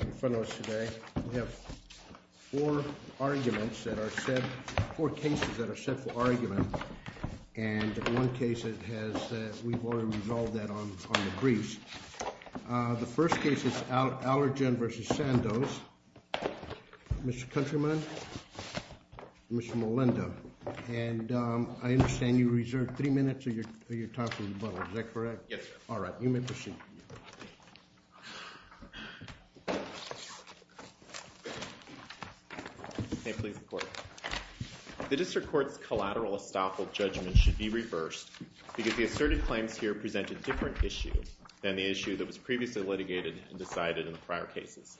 In front of us today, we have four arguments that are set, four cases that are set for argument. And one case has, we've already resolved that on the briefs. The first case is Allergan v. Sandoz. Mr. Countryman, Mr. Molenda. And I understand you reserved three minutes of your time for rebuttal, is that correct? Yes, sir. All right, you may proceed. May it please the Court. The District Court's collateral estoppel judgment should be reversed because the asserted claims here present a different issue than the issue that was previously litigated and decided in the prior cases.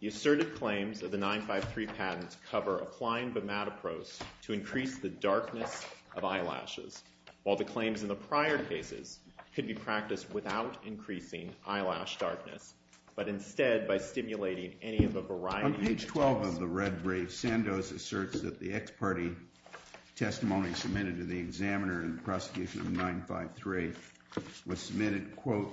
The asserted claims of the 953 patents cover applying Bimatopros to increase the darkness of eyelashes, while the claims in the prior cases could be practiced without increasing eyelash darkness, but instead by stimulating any of a variety of attempts. 12 of the red briefs, Sandoz asserts that the ex-party testimony submitted to the examiner in the prosecution of 953 was submitted, quote,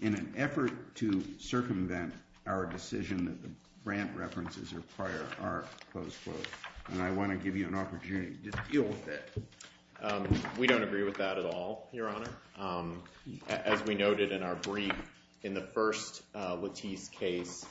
in an effort to circumvent our decision that the Brandt references are prior art, close quote. And I want to give you an opportunity to deal with that. We don't agree with that at all, Your Honor. As we noted in our brief, in the first Lattice case,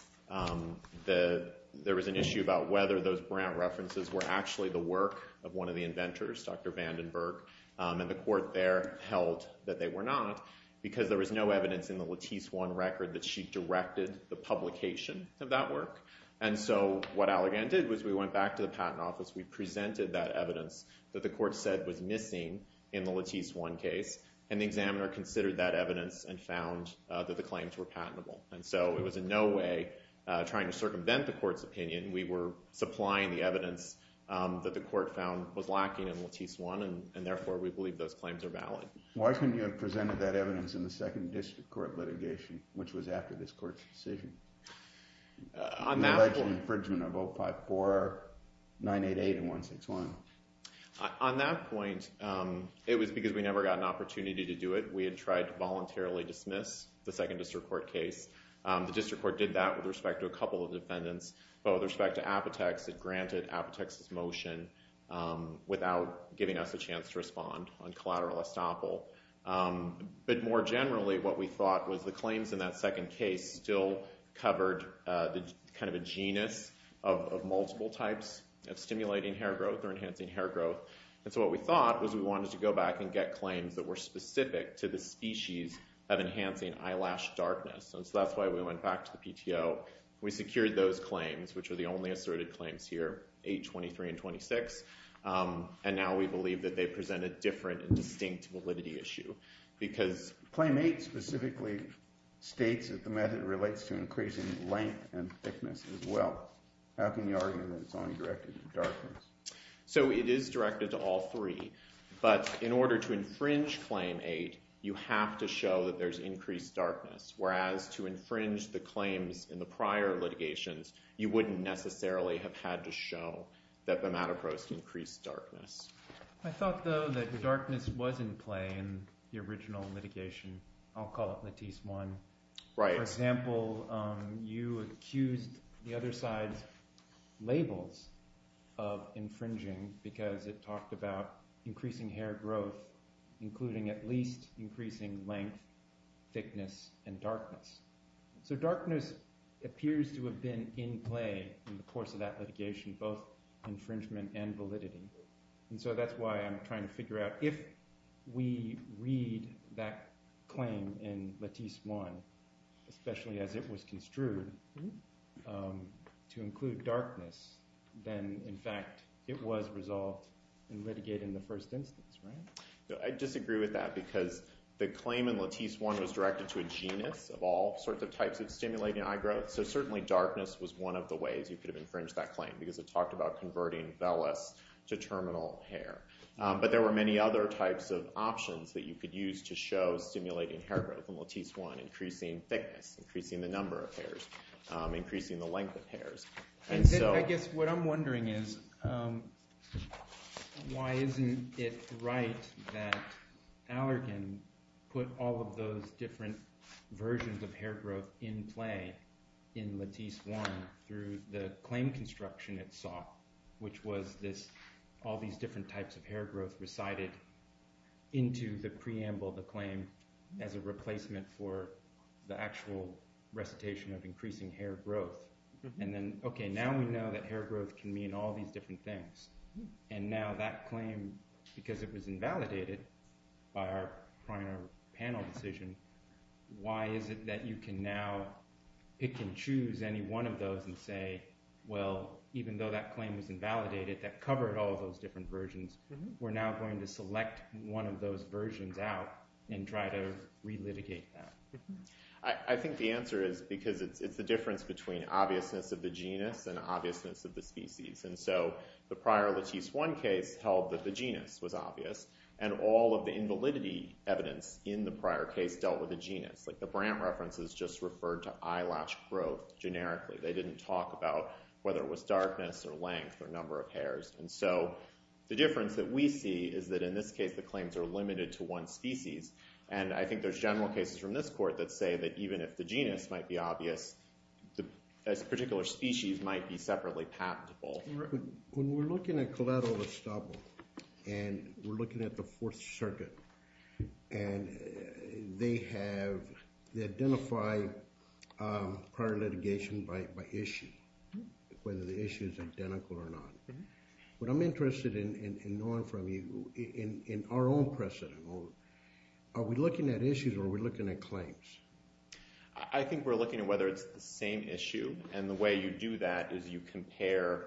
there was an issue about whether those Brandt references were actually the work of one of the inventors, Dr. Vandenberg. And the Court there held that they were not because there was no evidence in the Lattice 1 record that she directed the publication of that work. And so what Allegan did was we went back to the Patent Office. We presented that evidence that the Court said was missing in the Lattice 1 case, and the examiner considered that evidence and found that the claims were patentable. And so it was in no way trying to circumvent the Court's opinion. We were supplying the evidence that the Court found was lacking in Lattice 1, and therefore we believe those claims are valid. Why couldn't you have presented that evidence in the Second District Court litigation, which was after this Court's decision? The original infringement of 054, 988, and 161. On that point, it was because we never got an opportunity to do it. We had tried to voluntarily dismiss the Second District Court case. The District Court did that with respect to a couple of defendants, but with respect to Apotex, it granted Apotex's motion without giving us a chance to respond on collateral estoppel. But more generally, what we thought was the claims in that second case still covered kind of a genus of multiple types of stimulating hair growth or enhancing hair growth. And so what we thought was we wanted to go back and get claims that were specific to the species of enhancing eyelash darkness. And so that's why we went back to the PTO. We secured those claims, which are the only asserted claims here, 823 and 26. And now we believe that they present a different and distinct validity issue because— Claim 8 specifically states that the method relates to increasing length and thickness as well. How can you argue that it's only directed to darkness? So it is directed to all three, but in order to infringe Claim 8, you have to show that there's increased darkness. Whereas, to infringe the claims in the prior litigations, you wouldn't necessarily have had to show that the Matapros increased darkness. I thought, though, that the darkness was in play in the original litigation. I'll call it Latisse 1. Right. For example, you accused the other side's labels of infringing because it talked about increasing hair growth, including at least increasing length, thickness, and darkness. So darkness appears to have been in play in the course of that litigation, both infringement and validity. And so that's why I'm trying to figure out if we read that claim in Latisse 1, especially as it was construed to include darkness, then, in fact, it was resolved and litigated in the first instance, right? I disagree with that because the claim in Latisse 1 was directed to a genus of all sorts of types of stimulating eye growth. So certainly darkness was one of the ways you could have infringed that claim because it talked about converting vellus to terminal hair. But there were many other types of options that you could use to show stimulating hair growth in Latisse 1, increasing thickness, increasing the number of hairs, increasing the length of hairs. I guess what I'm wondering is why isn't it right that Allergan put all of those different versions of hair growth in play in Latisse 1 through the claim construction it saw, which was all these different types of hair growth recited into the preamble of the claim as a replacement for the actual recitation of increasing hair growth? And then, OK, now we know that hair growth can mean all these different things. And now that claim, because it was invalidated by our prior panel decision, why is it that you can now pick and choose any one of those and say, well, even though that claim was invalidated, that covered all of those different versions, we're now going to select one of those versions out and try to relitigate that? I think the answer is because it's the difference between obviousness of the genus and obviousness of the species. And so the prior Latisse 1 case held that the genus was obvious. And all of the invalidity evidence in the prior case dealt with the genus. Like the Brandt references just referred to eyelash growth generically. They didn't talk about whether it was darkness or length or number of hairs. And so the difference that we see is that in this case the claims are limited to one species. And I think there's general cases from this court that say that even if the genus might be obvious, a particular species might be separately patentable. When we're looking at collateral estoppel, and we're looking at the Fourth Circuit, and they have identified prior litigation by issue, whether the issue is identical or not. What I'm interested in knowing from you, in our own precedent, are we looking at issues or are we looking at claims? I think we're looking at whether it's the same issue. And the way you do that is you compare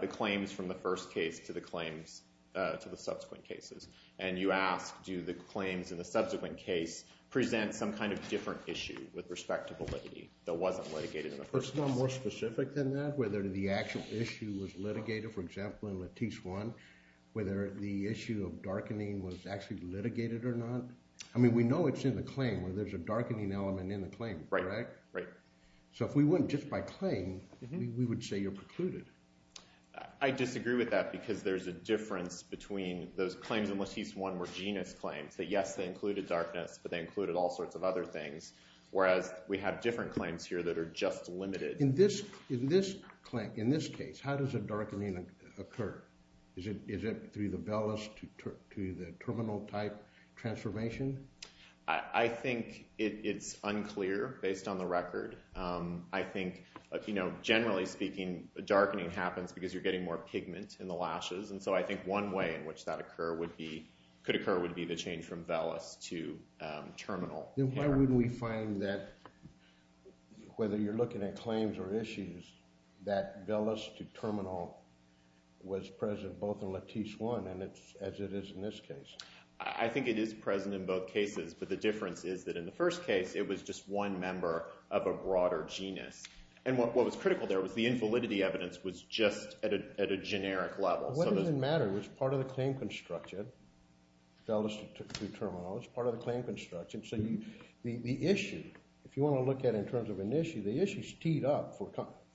the claims from the first case to the claims to the subsequent cases. And you ask do the claims in the subsequent case present some kind of different issue with respect to validity that wasn't litigated in the first case. Is the court's law more specific than that, whether the actual issue was litigated? For example, in Lattice 1, whether the issue of darkening was actually litigated or not? I mean we know it's in the claim where there's a darkening element in the claim, correct? So if we went just by claim, we would say you're precluded. I disagree with that because there's a difference between those claims in Lattice 1 were genus claims, that yes, they included darkness, but they included all sorts of other things. Whereas we have different claims here that are just limited. In this case, how does a darkening occur? Is it through the vellus to the terminal type transformation? I think it's unclear based on the record. I think generally speaking, darkening happens because you're getting more pigment in the lashes. And so I think one way in which that could occur would be the change from vellus to terminal. Then why wouldn't we find that, whether you're looking at claims or issues, that vellus to terminal was present both in Lattice 1 as it is in this case? I think it is present in both cases, but the difference is that in the first case, it was just one member of a broader genus. And what was critical there was the invalidity evidence was just at a generic level. What does it matter? It's part of the claim construction. Vellus to terminal is part of the claim construction. So the issue, if you want to look at it in terms of an issue, the issue is teed up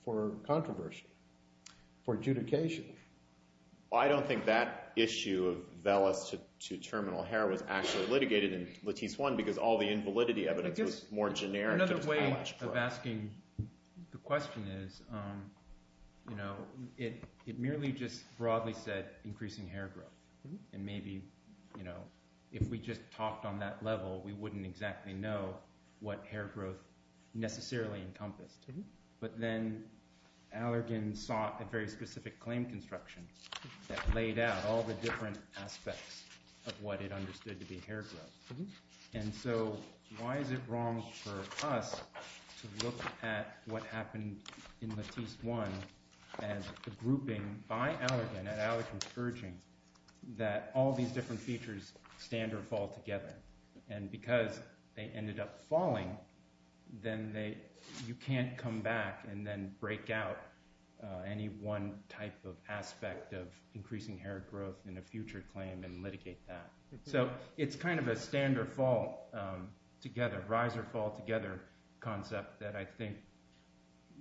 for controversy, for adjudication. I don't think that issue of vellus to terminal hair was actually litigated in Lattice 1 because all the invalidity evidence was more generic. Another way of asking the question is, it merely just broadly said increasing hair growth. And maybe if we just talked on that level, we wouldn't exactly know what hair growth necessarily encompassed. But then Allergan sought a very specific claim construction that laid out all the different aspects of what it understood to be hair growth. And so why is it wrong for us to look at what happened in Lattice 1 and the grouping by Allergan at Allergan Scourging that all these different features stand or fall together? And because they ended up falling, then you can't come back and then break out any one type of aspect of increasing hair growth in a future claim and litigate that. So it's kind of a stand or fall together, rise or fall together concept that I think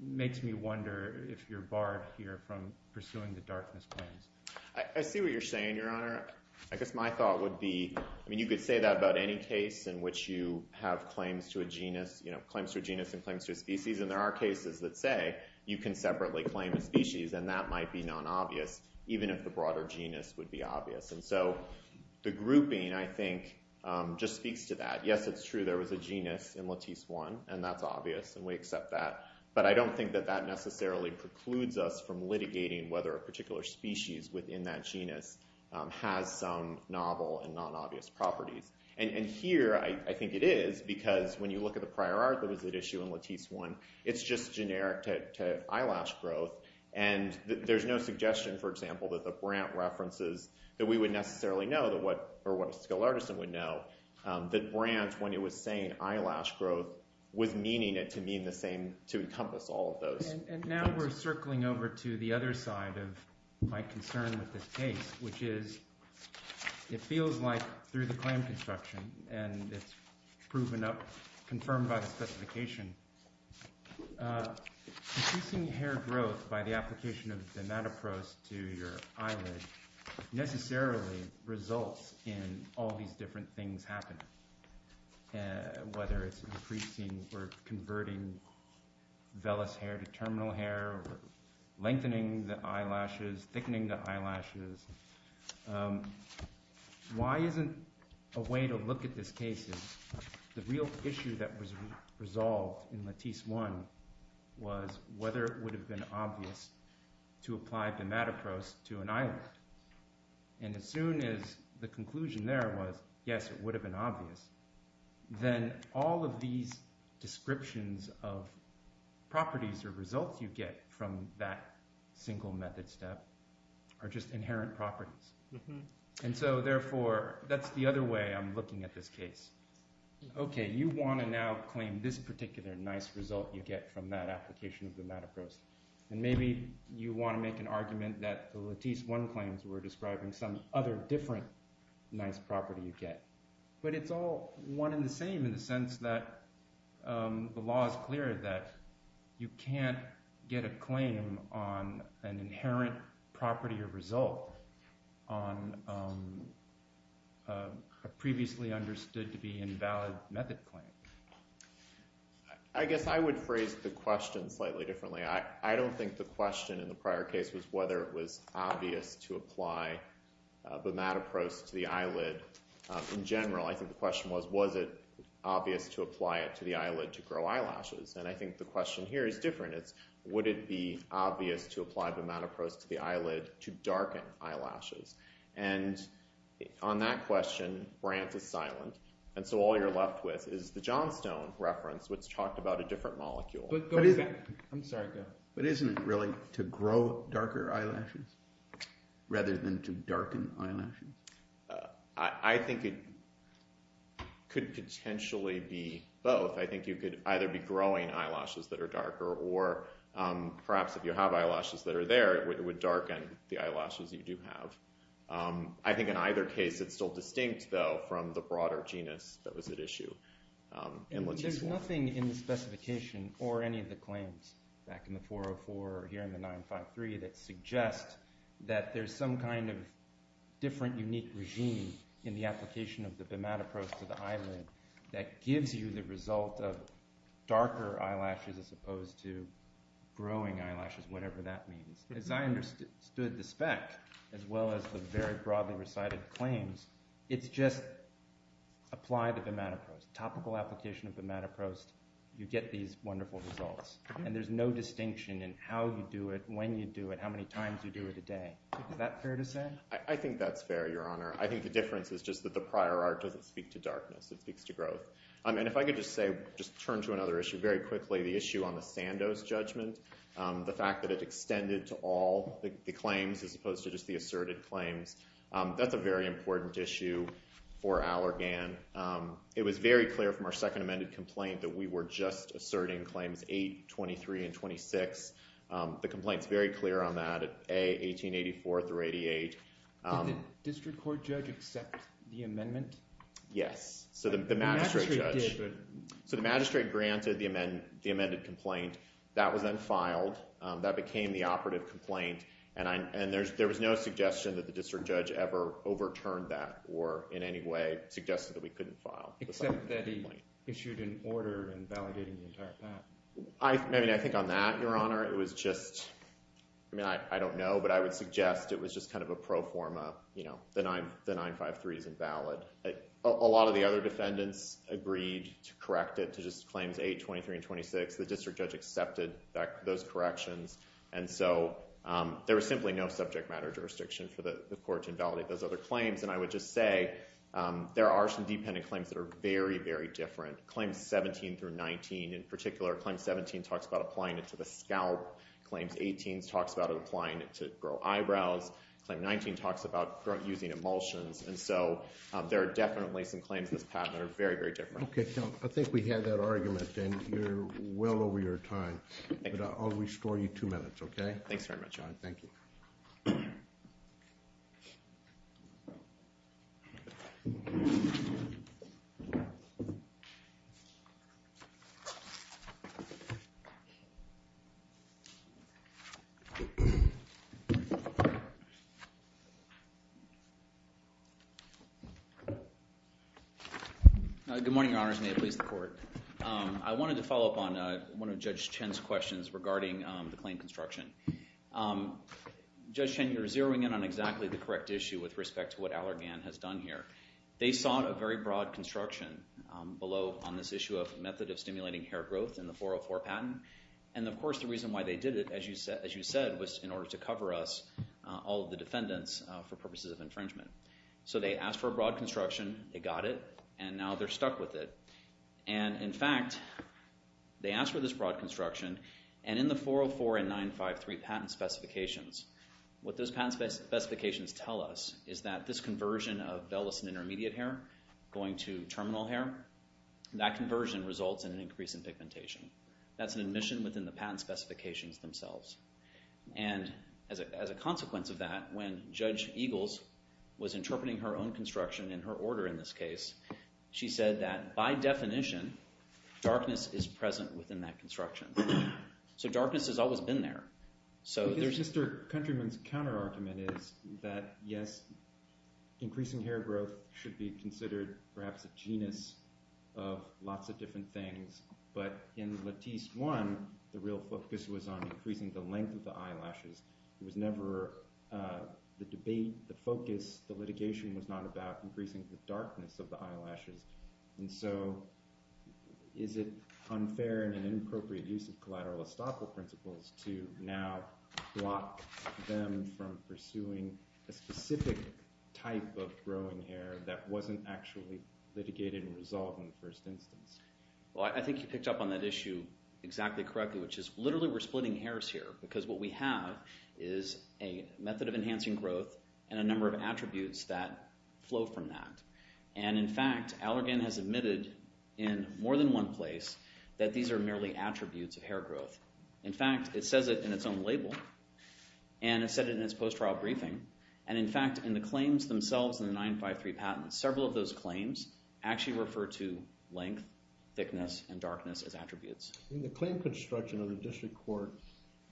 makes me wonder if you're barred here from pursuing the darkness claims. I see what you're saying, Your Honor. I guess my thought would be, I mean, you could say that about any case in which you have claims to a genus, claims to a genus and claims to a species. And there are cases that say you can separately claim a species, and that might be non-obvious, even if the broader genus would be obvious. And so the grouping, I think, just speaks to that. Yes, it's true there was a genus in Lattice 1, and that's obvious, and we accept that. But I don't think that that necessarily precludes us from litigating whether a particular species within that genus has some novel and non-obvious properties. And here I think it is, because when you look at the prior art that was at issue in Lattice 1, it's just generic to eyelash growth. And there's no suggestion, for example, that the Brandt references that we would necessarily know, or what a skilled artisan would know, that Brandt, when he was saying eyelash growth, was meaning it to encompass all of those. And now we're circling over to the other side of my concern with this case, which is it feels like through the claim construction, and it's proven up, confirmed by the specification, increasing hair growth by the application of dimatoproste to your eyelid necessarily results in all these different things happening, whether it's increasing or converting vellus hair to terminal hair, lengthening the eyelashes, thickening the eyelashes. Why isn't a way to look at this case is the real issue that was resolved in Lattice 1 was whether it would have been obvious to apply dimatoproste to an eyelid. And as soon as the conclusion there was, yes, it would have been obvious, then all of these descriptions of properties or results you get from that single method step are just inherent properties. And so therefore, that's the other way I'm looking at this case. Okay, you want to now claim this particular nice result you get from that application of dimatoproste. And maybe you want to make an argument that the Lattice 1 claims were describing some other different nice property you get. But it's all one and the same in the sense that the law is clear that you can't get a claim on an inherent property or result on a previously understood to be invalid method claim. I guess I would phrase the question slightly differently. I don't think the question in the prior case was whether it was obvious to apply dimatoproste to the eyelid. In general, I think the question was, was it obvious to apply it to the eyelid to grow eyelashes? And I think the question here is different. It's would it be obvious to apply dimatoproste to the eyelid to darken eyelashes? And on that question, Brant is silent. And so all you're left with is the Johnstone reference, which talked about a different molecule. I'm sorry. But isn't it really to grow darker eyelashes rather than to darken eyelashes? I think it could potentially be both. I think you could either be growing eyelashes that are darker or perhaps if you have eyelashes that are there, it would darken the eyelashes you do have. I think in either case, it's still distinct, though, from the broader genus that was at issue. There's nothing in the specification or any of the claims back in the 404 or here in the 953 that suggests that there's some kind of different, unique regime in the application of the dimatoproste to the eyelid that gives you the result of darker eyelashes as opposed to growing eyelashes, whatever that means. As I understood the spec as well as the very broadly recited claims, it's just apply the dimatoproste, topical application of dimatoproste. You get these wonderful results. And there's no distinction in how you do it, when you do it, how many times you do it a day. Is that fair to say? I think that's fair, Your Honor. I think the difference is just that the prior art doesn't speak to darkness. It speaks to growth. And if I could just say, just turn to another issue very quickly, the issue on the Sandos judgment, the fact that it extended to all the claims as opposed to just the asserted claims. That's a very important issue for Allergan. It was very clear from our second amended complaint that we were just asserting claims 8, 23, and 26. The complaint's very clear on that, A, 1884 through 88. Did the district court judge accept the amendment? Yes. So the magistrate judge. So the magistrate granted the amended complaint. That was then filed. That became the operative complaint. And there was no suggestion that the district judge ever overturned that or in any way suggested that we couldn't file. Except that he issued an order invalidating the entire path. I think on that, Your Honor, it was just, I don't know, but I would suggest it was just kind of a pro forma. The 953 isn't valid. A lot of the other defendants agreed to correct it to just claims 8, 23, and 26. The district judge accepted those corrections. And so there was simply no subject matter jurisdiction for the court to invalidate those other claims. And I would just say there are some dependent claims that are very, very different. Claims 17 through 19 in particular. Claim 17 talks about applying it to the scalp. Claims 18 talks about applying it to grow eyebrows. Claim 19 talks about using emulsions. And so there are definitely some claims in this patent that are very, very different. Okay. I think we have that argument. And you're well over your time. But I'll restore you two minutes, okay? Thanks very much, Your Honor. Thank you. Good morning, Your Honors. May it please the court. I wanted to follow up on one of Judge Chen's questions regarding the claim construction. Judge Chen, you're zeroing in on exactly the correct issue with respect to what Allergan has done here. They sought a very broad construction below on this issue of method of stimulating hair growth in the 404 patent. And, of course, the reason why they did it, as you said, was in order to cover us, all of the defendants, for purposes of infringement. So they asked for a broad construction. They got it. And now they're stuck with it. And, in fact, they asked for this broad construction, and in the 404 and 953 patent specifications, what those patent specifications tell us is that this conversion of vellus and intermediate hair going to terminal hair, that conversion results in an increase in pigmentation. That's an admission within the patent specifications themselves. And as a consequence of that, when Judge Eagles was interpreting her own construction in her order in this case, she said that, by definition, darkness is present within that construction. So darkness has always been there. Mr. Countryman's counterargument is that, yes, increasing hair growth should be considered perhaps a genus of lots of different things, but in Lattice 1, the real focus was on increasing the length of the eyelashes. It was never the debate, the focus, the litigation was not about increasing the darkness of the eyelashes. And so is it unfair and inappropriate use of collateral estoppel principles to now block them from pursuing a specific type of growing hair that wasn't actually litigated and resolved in the first instance? Well, I think you picked up on that issue exactly correctly, which is literally we're splitting hairs here because what we have is a method of enhancing growth and a number of attributes that flow from that. And, in fact, Allergan has admitted in more than one place that these are merely attributes of hair growth. In fact, it says it in its own label, and it said it in its post-trial briefing. And, in fact, in the claims themselves in the 953 patent, several of those claims actually refer to length, thickness, and darkness as attributes. In the claim construction of the district court,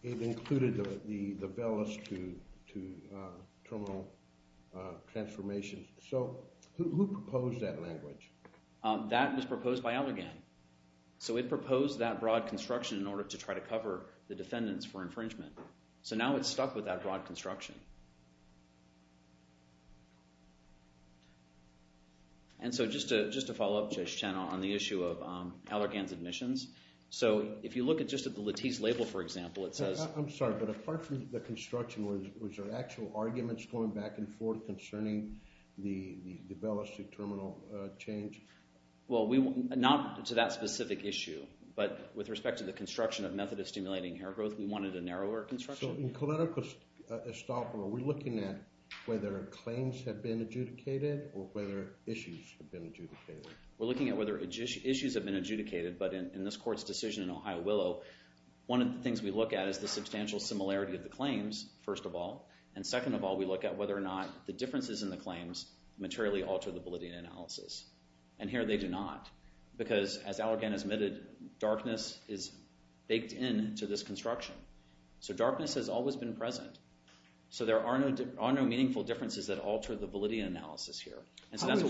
it included the vellus to terminal transformation. So who proposed that language? That was proposed by Allergan. So it proposed that broad construction in order to try to cover the defendants for infringement. So now it's stuck with that broad construction. And so just to follow up, Judge Chen, on the issue of Allergan's admissions. So if you look just at the Latisse label, for example, it says— I'm sorry, but apart from the construction, was there actual arguments going back and forth concerning the vellus to terminal change? Well, not to that specific issue, but with respect to the construction of method of stimulating hair growth, we wanted a narrower construction. So in collateral estoppel, are we looking at whether claims have been adjudicated or whether issues have been adjudicated? We're looking at whether issues have been adjudicated, but in this court's decision in Ohio Willow, one of the things we look at is the substantial similarity of the claims, first of all. And second of all, we look at whether or not the differences in the claims materially alter the validity of the analysis. And here they do not because, as Allergan has admitted, darkness is baked into this construction. So darkness has always been present. So there are no meaningful differences that alter the validity analysis here. How is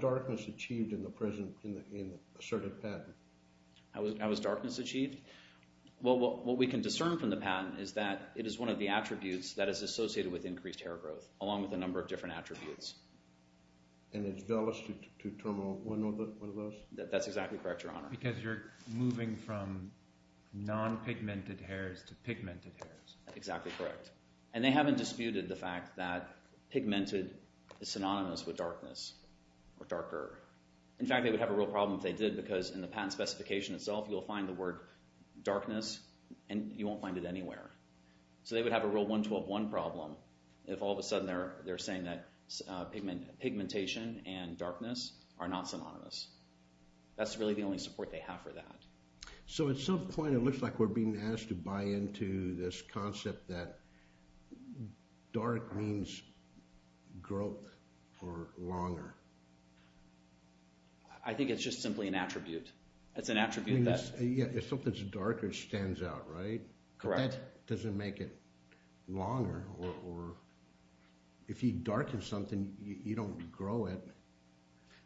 darkness achieved in the asserted patent? How is darkness achieved? Well, what we can discern from the patent is that it is one of the attributes that is associated with increased hair growth, along with a number of different attributes. And it's vellus to terminal, one of those? That's exactly correct, Your Honor. Because you're moving from non-pigmented hairs to pigmented hairs. Exactly correct. And they haven't disputed the fact that pigmented is synonymous with darkness or darker. In fact, they would have a real problem if they did because in the patent specification itself, you'll find the word darkness and you won't find it anywhere. So they would have a real 112.1 problem if all of a sudden they're saying that pigmentation and darkness are not synonymous. That's really the only support they have for that. So at some point, it looks like we're being asked to buy into this concept that dark means growth for longer. I think it's just simply an attribute. It's an attribute that— Yeah, if something's darker, it stands out, right? Correct. But that doesn't make it longer. Or if you darken something, you don't grow it.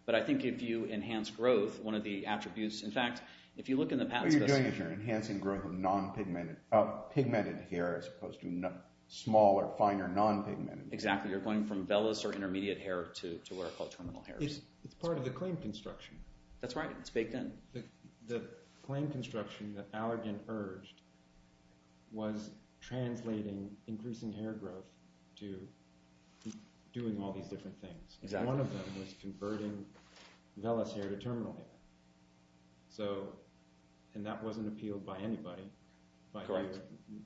But I think if you enhance growth, one of the attributes— in fact, if you look in the patent specification— What you're doing is you're enhancing growth of pigmented hair as opposed to smaller, finer non-pigmented hairs. Exactly. You're going from vellus or intermediate hair to what are called terminal hairs. It's part of the claim construction. That's right. It's baked in. The claim construction that Allergan urged was translating increasing hair growth to doing all these different things. Exactly. One of them was converting vellus hair to terminal hair, and that wasn't appealed by anybody. Correct.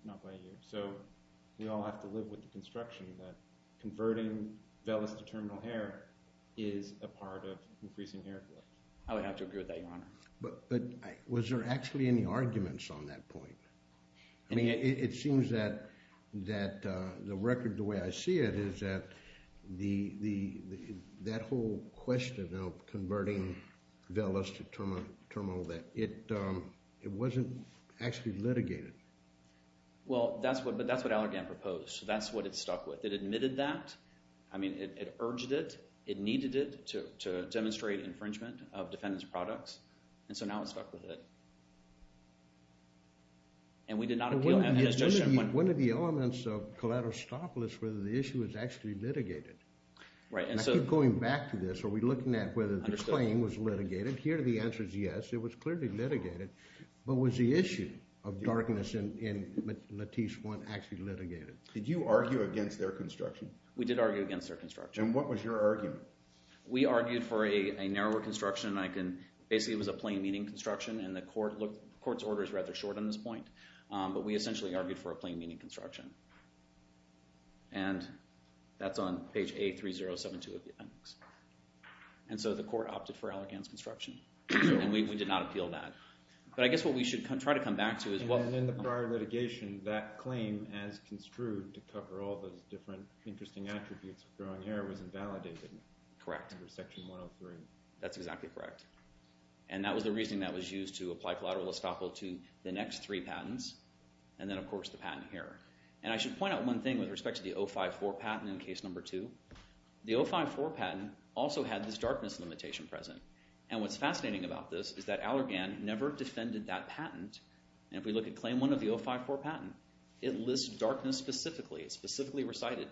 Not by you. So we all have to live with the construction that converting vellus to terminal hair is a part of increasing hair growth. I would have to agree with that, Your Honor. But was there actually any arguments on that point? I mean, it seems that the record, the way I see it, is that that whole question of converting vellus to terminal hair, it wasn't actually litigated. Well, that's what Allergan proposed. That's what it stuck with. It admitted that. I mean, it urged it. It needed it to demonstrate infringement of defendant's products. And so now it's stuck with it. And we did not appeal it. One of the elements of collateral stop was whether the issue was actually litigated. Right. Going back to this, are we looking at whether the claim was litigated? Here the answer is yes. It was clearly litigated. But was the issue of darkness in Latisse I actually litigated? Did you argue against their construction? We did argue against their construction. And what was your argument? We argued for a narrower construction. Basically, it was a plain meaning construction. And the court's order is rather short on this point. But we essentially argued for a plain meaning construction. And that's on page A3072 of the appendix. And so the court opted for Allergan's construction. And we did not appeal that. But I guess what we should try to come back to is what— And in the prior litigation, that claim as construed to cover all those different interesting attributes of growing hair was invalidated. Correct. Under Section 103. That's exactly correct. And that was the reasoning that was used to apply collateral estoppel to the next three patents. And then, of course, the patent here. And I should point out one thing with respect to the 054 patent in case number two. The 054 patent also had this darkness limitation present. And what's fascinating about this is that Allergan never defended that patent. And if we look at claim one of the 054 patent, it lists darkness specifically. It specifically recited.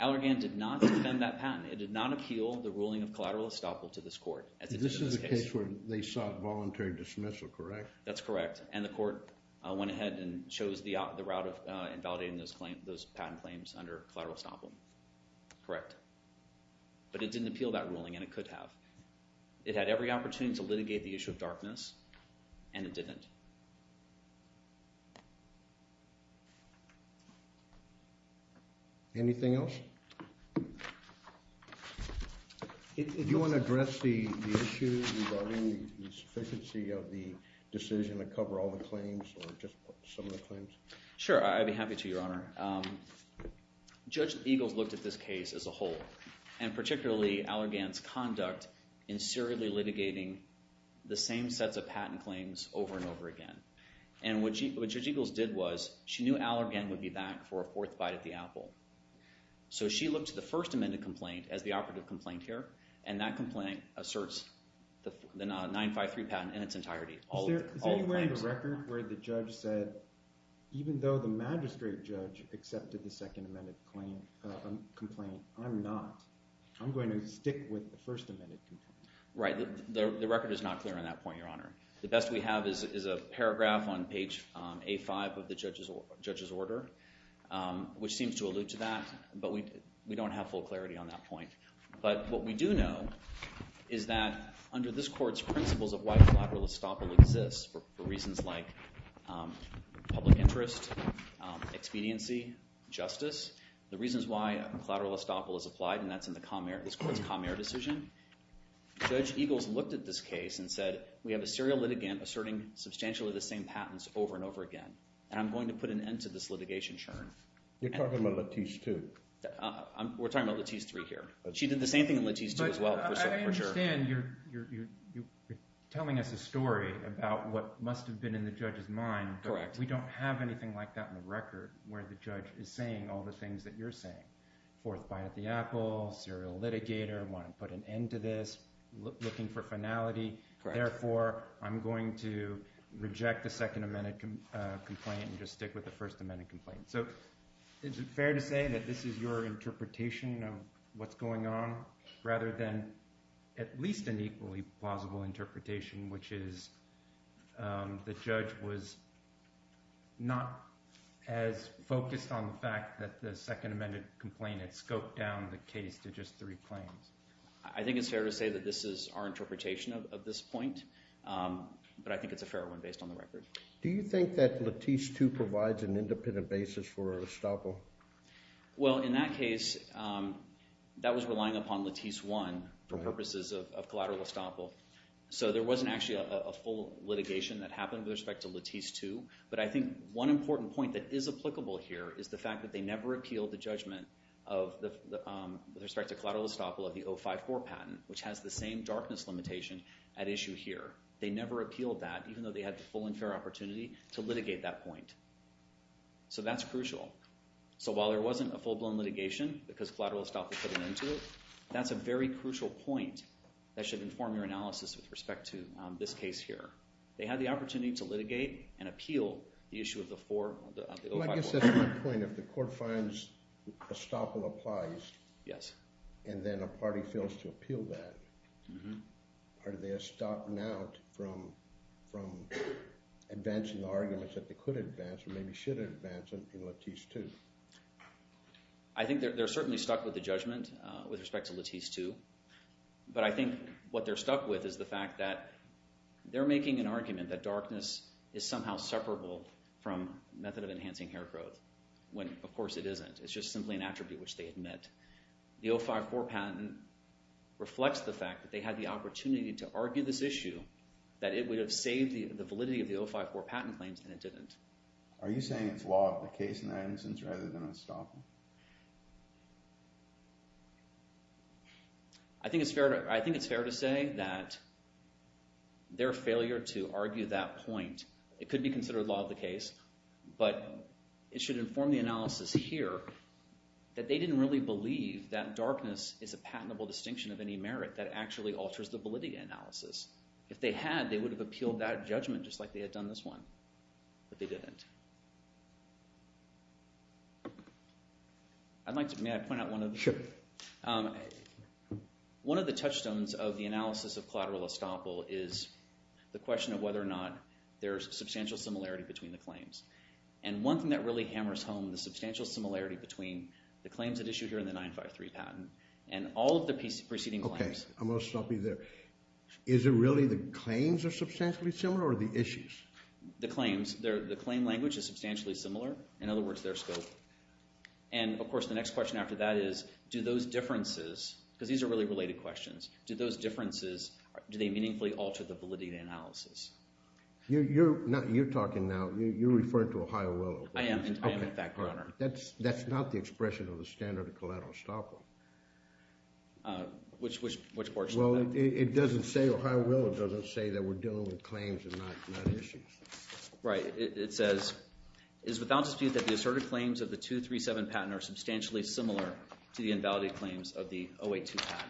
Allergan did not defend that patent. It did not appeal the ruling of collateral estoppel to this court. This is the case where they sought voluntary dismissal, correct? That's correct. And the court went ahead and chose the route of invalidating those patent claims under collateral estoppel. Correct. But it didn't appeal that ruling, and it could have. It had every opportunity to litigate the issue of darkness, and it didn't. Anything else? If you want to address the issue regarding the sufficiency of the decision to cover all the claims or just some of the claims? Sure. I'd be happy to, Your Honor. Judge Eagles looked at this case as a whole, and particularly Allergan's conduct in serially litigating the same sets of patent claims over and over again. And what Judge Eagles did was she knew Allergan would be back for a fourth bite at the apple. So she looked to the First Amendment complaint as the operative complaint here, and that complaint asserts the 953 patent in its entirety. Is there any way in the record where the judge said, even though the magistrate judge accepted the Second Amendment complaint, I'm not. I'm going to stick with the First Amendment complaint. Right. The record is not clear on that point, Your Honor. The best we have is a paragraph on page A5 of the judge's order, which seems to allude to that, but we don't have full clarity on that point. But what we do know is that under this court's principles of why collateral estoppel exists, for reasons like public interest, expediency, justice, the reasons why collateral estoppel is applied, and that's in this court's Comair decision, Judge Eagles looked at this case and said, we have a serial litigant asserting substantially the same patents over and over again, and I'm going to put an end to this litigation, Your Honor. You're talking about Latice 2. We're talking about Latice 3 here. She did the same thing in Latice 2 as well, for sure. But I understand you're telling us a story about what must have been in the judge's mind. Correct. We don't have anything like that in the record where the judge is saying all the things that you're saying. Fourth bite at the apple, serial litigator, want to put an end to this, looking for finality. Therefore, I'm going to reject the Second Amendment complaint and just stick with the First Amendment complaint. So is it fair to say that this is your interpretation of what's going on rather than at least an equally plausible interpretation, which is the judge was not as focused on the fact that the Second Amendment complaint had scoped down the case to just three claims? I think it's fair to say that this is our interpretation of this point, but I think it's a fair one based on the record. Do you think that Latice 2 provides an independent basis for estoppel? Well, in that case, that was relying upon Latice 1 for purposes of collateral estoppel. So there wasn't actually a full litigation that happened with respect to Latice 2, but I think one important point that is applicable here is the fact that they never appealed the judgment with respect to collateral estoppel of the 054 patent, which has the same darkness limitation at issue here. They never appealed that even though they had the full and fair opportunity to litigate that point. So that's crucial. So while there wasn't a full-blown litigation because collateral estoppel put an end to it, that's a very crucial point that should inform your analysis with respect to this case here. They had the opportunity to litigate and appeal the issue of the 054. Well, I guess that's my point. If the court finds estoppel applies and then a party fails to appeal that, are they estopped now from advancing arguments that they could advance or maybe should advance in Latice 2? I think they're certainly stuck with the judgment with respect to Latice 2, but I think what they're stuck with is the fact that they're making an argument that darkness is somehow separable from method of enhancing hair growth when, of course, it isn't. It's just simply an attribute which they admit. The 054 patent reflects the fact that they had the opportunity to argue this issue, that it would have saved the validity of the 054 patent claims, and it didn't. Are you saying it's law of the case in that instance rather than estoppel? I think it's fair to say that their failure to argue that point, it could be considered law of the case, but it should inform the analysis here that they didn't really believe that darkness is a patentable distinction of any merit that actually alters the validity analysis. If they had, they would have appealed that judgment just like they had done this one, but they didn't. May I point out one of the touchstones of the analysis of collateral estoppel is the question of whether or not there's substantial similarity between the claims, and one thing that really hammers home the substantial similarity between the claims that issue here in the 953 patent and all of the preceding claims. Okay, I'm going to stop you there. Is it really the claims are substantially similar or the issues? The claims. The claim language is substantially similar. In other words, their scope. Of course, the next question after that is do those differences, because these are really related questions, do those differences, do they meaningfully alter the validity analysis? You're talking now, you're referring to Ohio Willow. I am at that corner. That's not the expression of the standard of collateral estoppel. Which portion of that? Well, it doesn't say Ohio Willow doesn't say that we're dealing with claims and not issues. Right. It says, is without dispute that the asserted claims of the 237 patent are substantially similar to the invalidated claims of the 082 patent.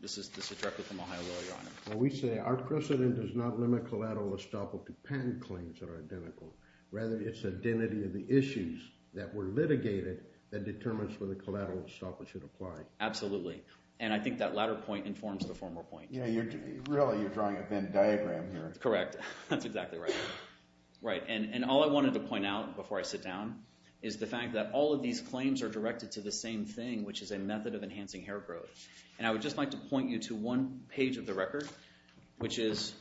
This is directly from Ohio Willow, Your Honor. Well, we say our precedent does not limit collateral estoppel to patent claims that are identical. Rather, it's identity of the issues that were litigated that determines whether collateral estoppel should apply. Absolutely. And I think that latter point informs the former point. Really, you're drawing a Venn diagram here. Correct. That's exactly right. Right. And all I wanted to point out before I sit down is the fact that all of these claims are directed to the same thing, which is a method of enhancing hair growth. And I would just like to point you to one page of the record, which is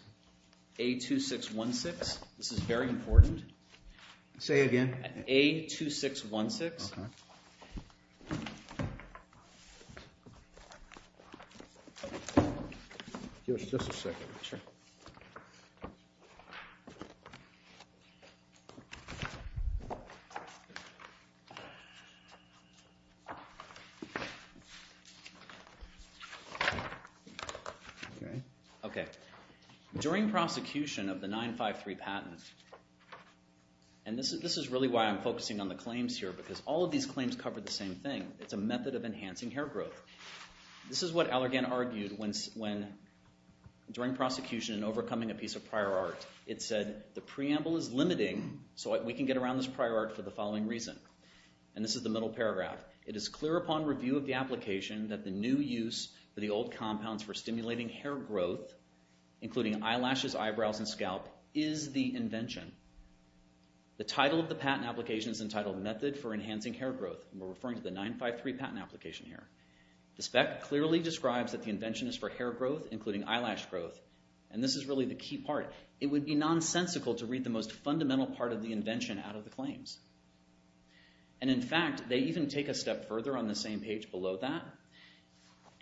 A2616. This is very important. Say it again. A2616. Okay. Just a second. Sure. Okay. Okay. During prosecution of the 953 patent, and this is really why I'm focusing on the claims here because all of these claims cover the same thing. It's a method of enhancing hair growth. This is what Allergan argued when during prosecution in overcoming a piece of prior art. It said the preamble is limiting, so we can get around this prior art for the following reason. And this is the middle paragraph. It is clear upon review of the application that the new use for the old compounds for stimulating hair growth, including eyelashes, eyebrows, and scalp, is the invention. The title of the patent application is entitled Method for Enhancing Hair Growth, and we're referring to the 953 patent application here. The spec clearly describes that the invention is for hair growth, including eyelash growth, and this is really the key part. It would be nonsensical to read the most fundamental part of the invention out of the claims. And in fact, they even take a step further on the same page below that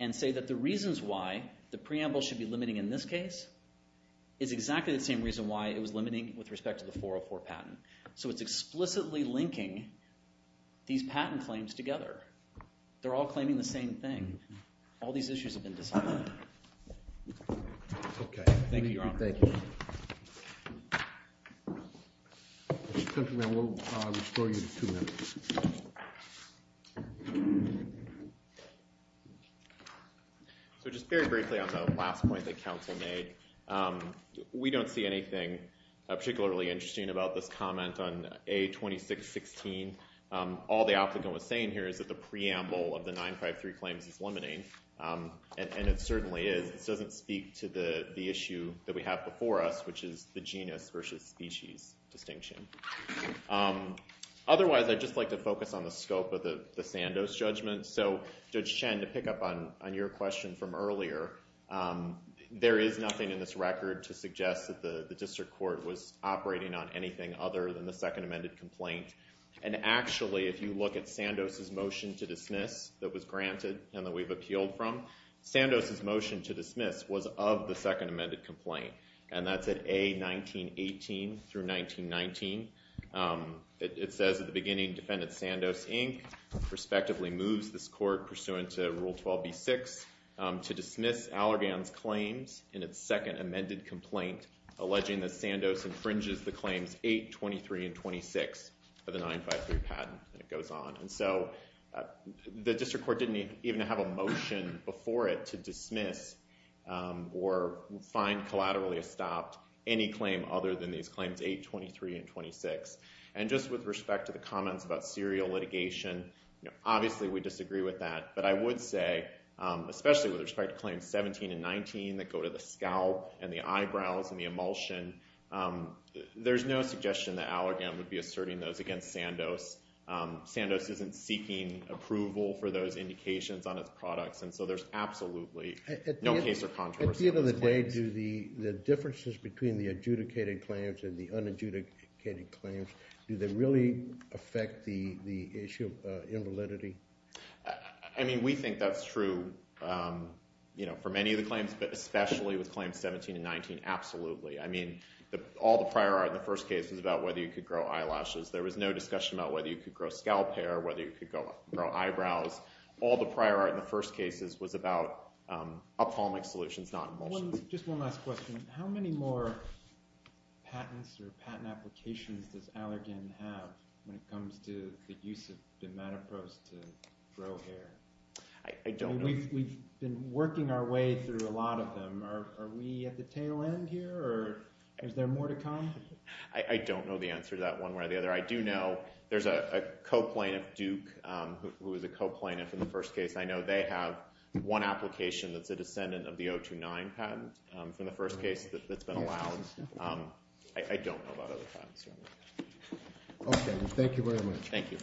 and say that the reasons why the preamble should be limiting in this case is exactly the same reason why it was limiting with respect to the 404 patent. So it's explicitly linking these patent claims together. They're all claiming the same thing. All these issues have been decided. Okay. Thank you, Your Honor. Thank you. Mr. Countryman, we'll restore you to two minutes. So just very briefly on the last point that counsel made, we don't see anything particularly interesting about this comment on A2616. All the applicant was saying here is that the preamble of the 953 claims is limiting, and it certainly is. This doesn't speak to the issue that we have before us, which is the genus versus species distinction. Otherwise, I'd just like to focus on the scope of the Sandoz judgment. So, Judge Chen, to pick up on your question from earlier, there is nothing in this record to suggest that the district court was operating on anything other than the second amended complaint. And actually, if you look at Sandoz's motion to dismiss that was granted and that we've appealed from, Sandoz's motion to dismiss was of the second amended complaint. And that's at A1918 through 1919. It says at the beginning, Defendant Sandoz, Inc. respectively moves this court pursuant to Rule 12b-6 to dismiss Allergan's claims in its second amended complaint, alleging that Sandoz infringes the claims 823 and 26 of the 953 patent. And it goes on. And so the district court didn't even have a motion before it to dismiss or find collaterally stopped any claim other than these claims 823 and 26. And just with respect to the comments about serial litigation, obviously we disagree with that. But I would say, especially with respect to claims 17 and 19 that go to the scalp and the eyebrows and the emulsion, there's no suggestion that Allergan would be asserting those against Sandoz. Sandoz isn't seeking approval for those indications on its products. And so there's absolutely no case or controversy. At the end of the day, do the differences between the adjudicated claims and the unadjudicated claims, do they really affect the issue of invalidity? I mean, we think that's true for many of the claims, but especially with claims 17 and 19, absolutely. I mean, all the prior art in the first case was about whether you could grow eyelashes. There was no discussion about whether you could grow scalp hair or whether you could grow eyebrows. All the prior art in the first case was about ophthalmic solutions, not emulsion. Just one last question. How many more patents or patent applications does Allergan have when it comes to the use of dimetapros to grow hair? I don't know. We've been working our way through a lot of them. Are we at the tail end here, or is there more to come? I don't know the answer to that one way or the other. I do know there's a co-plaintiff, Duke, who is a co-plaintiff in the first case. I know they have one application that's a descendant of the 029 patent from the first case that's been allowed. I don't know about other patents. Okay. Thank you very much. Thank you.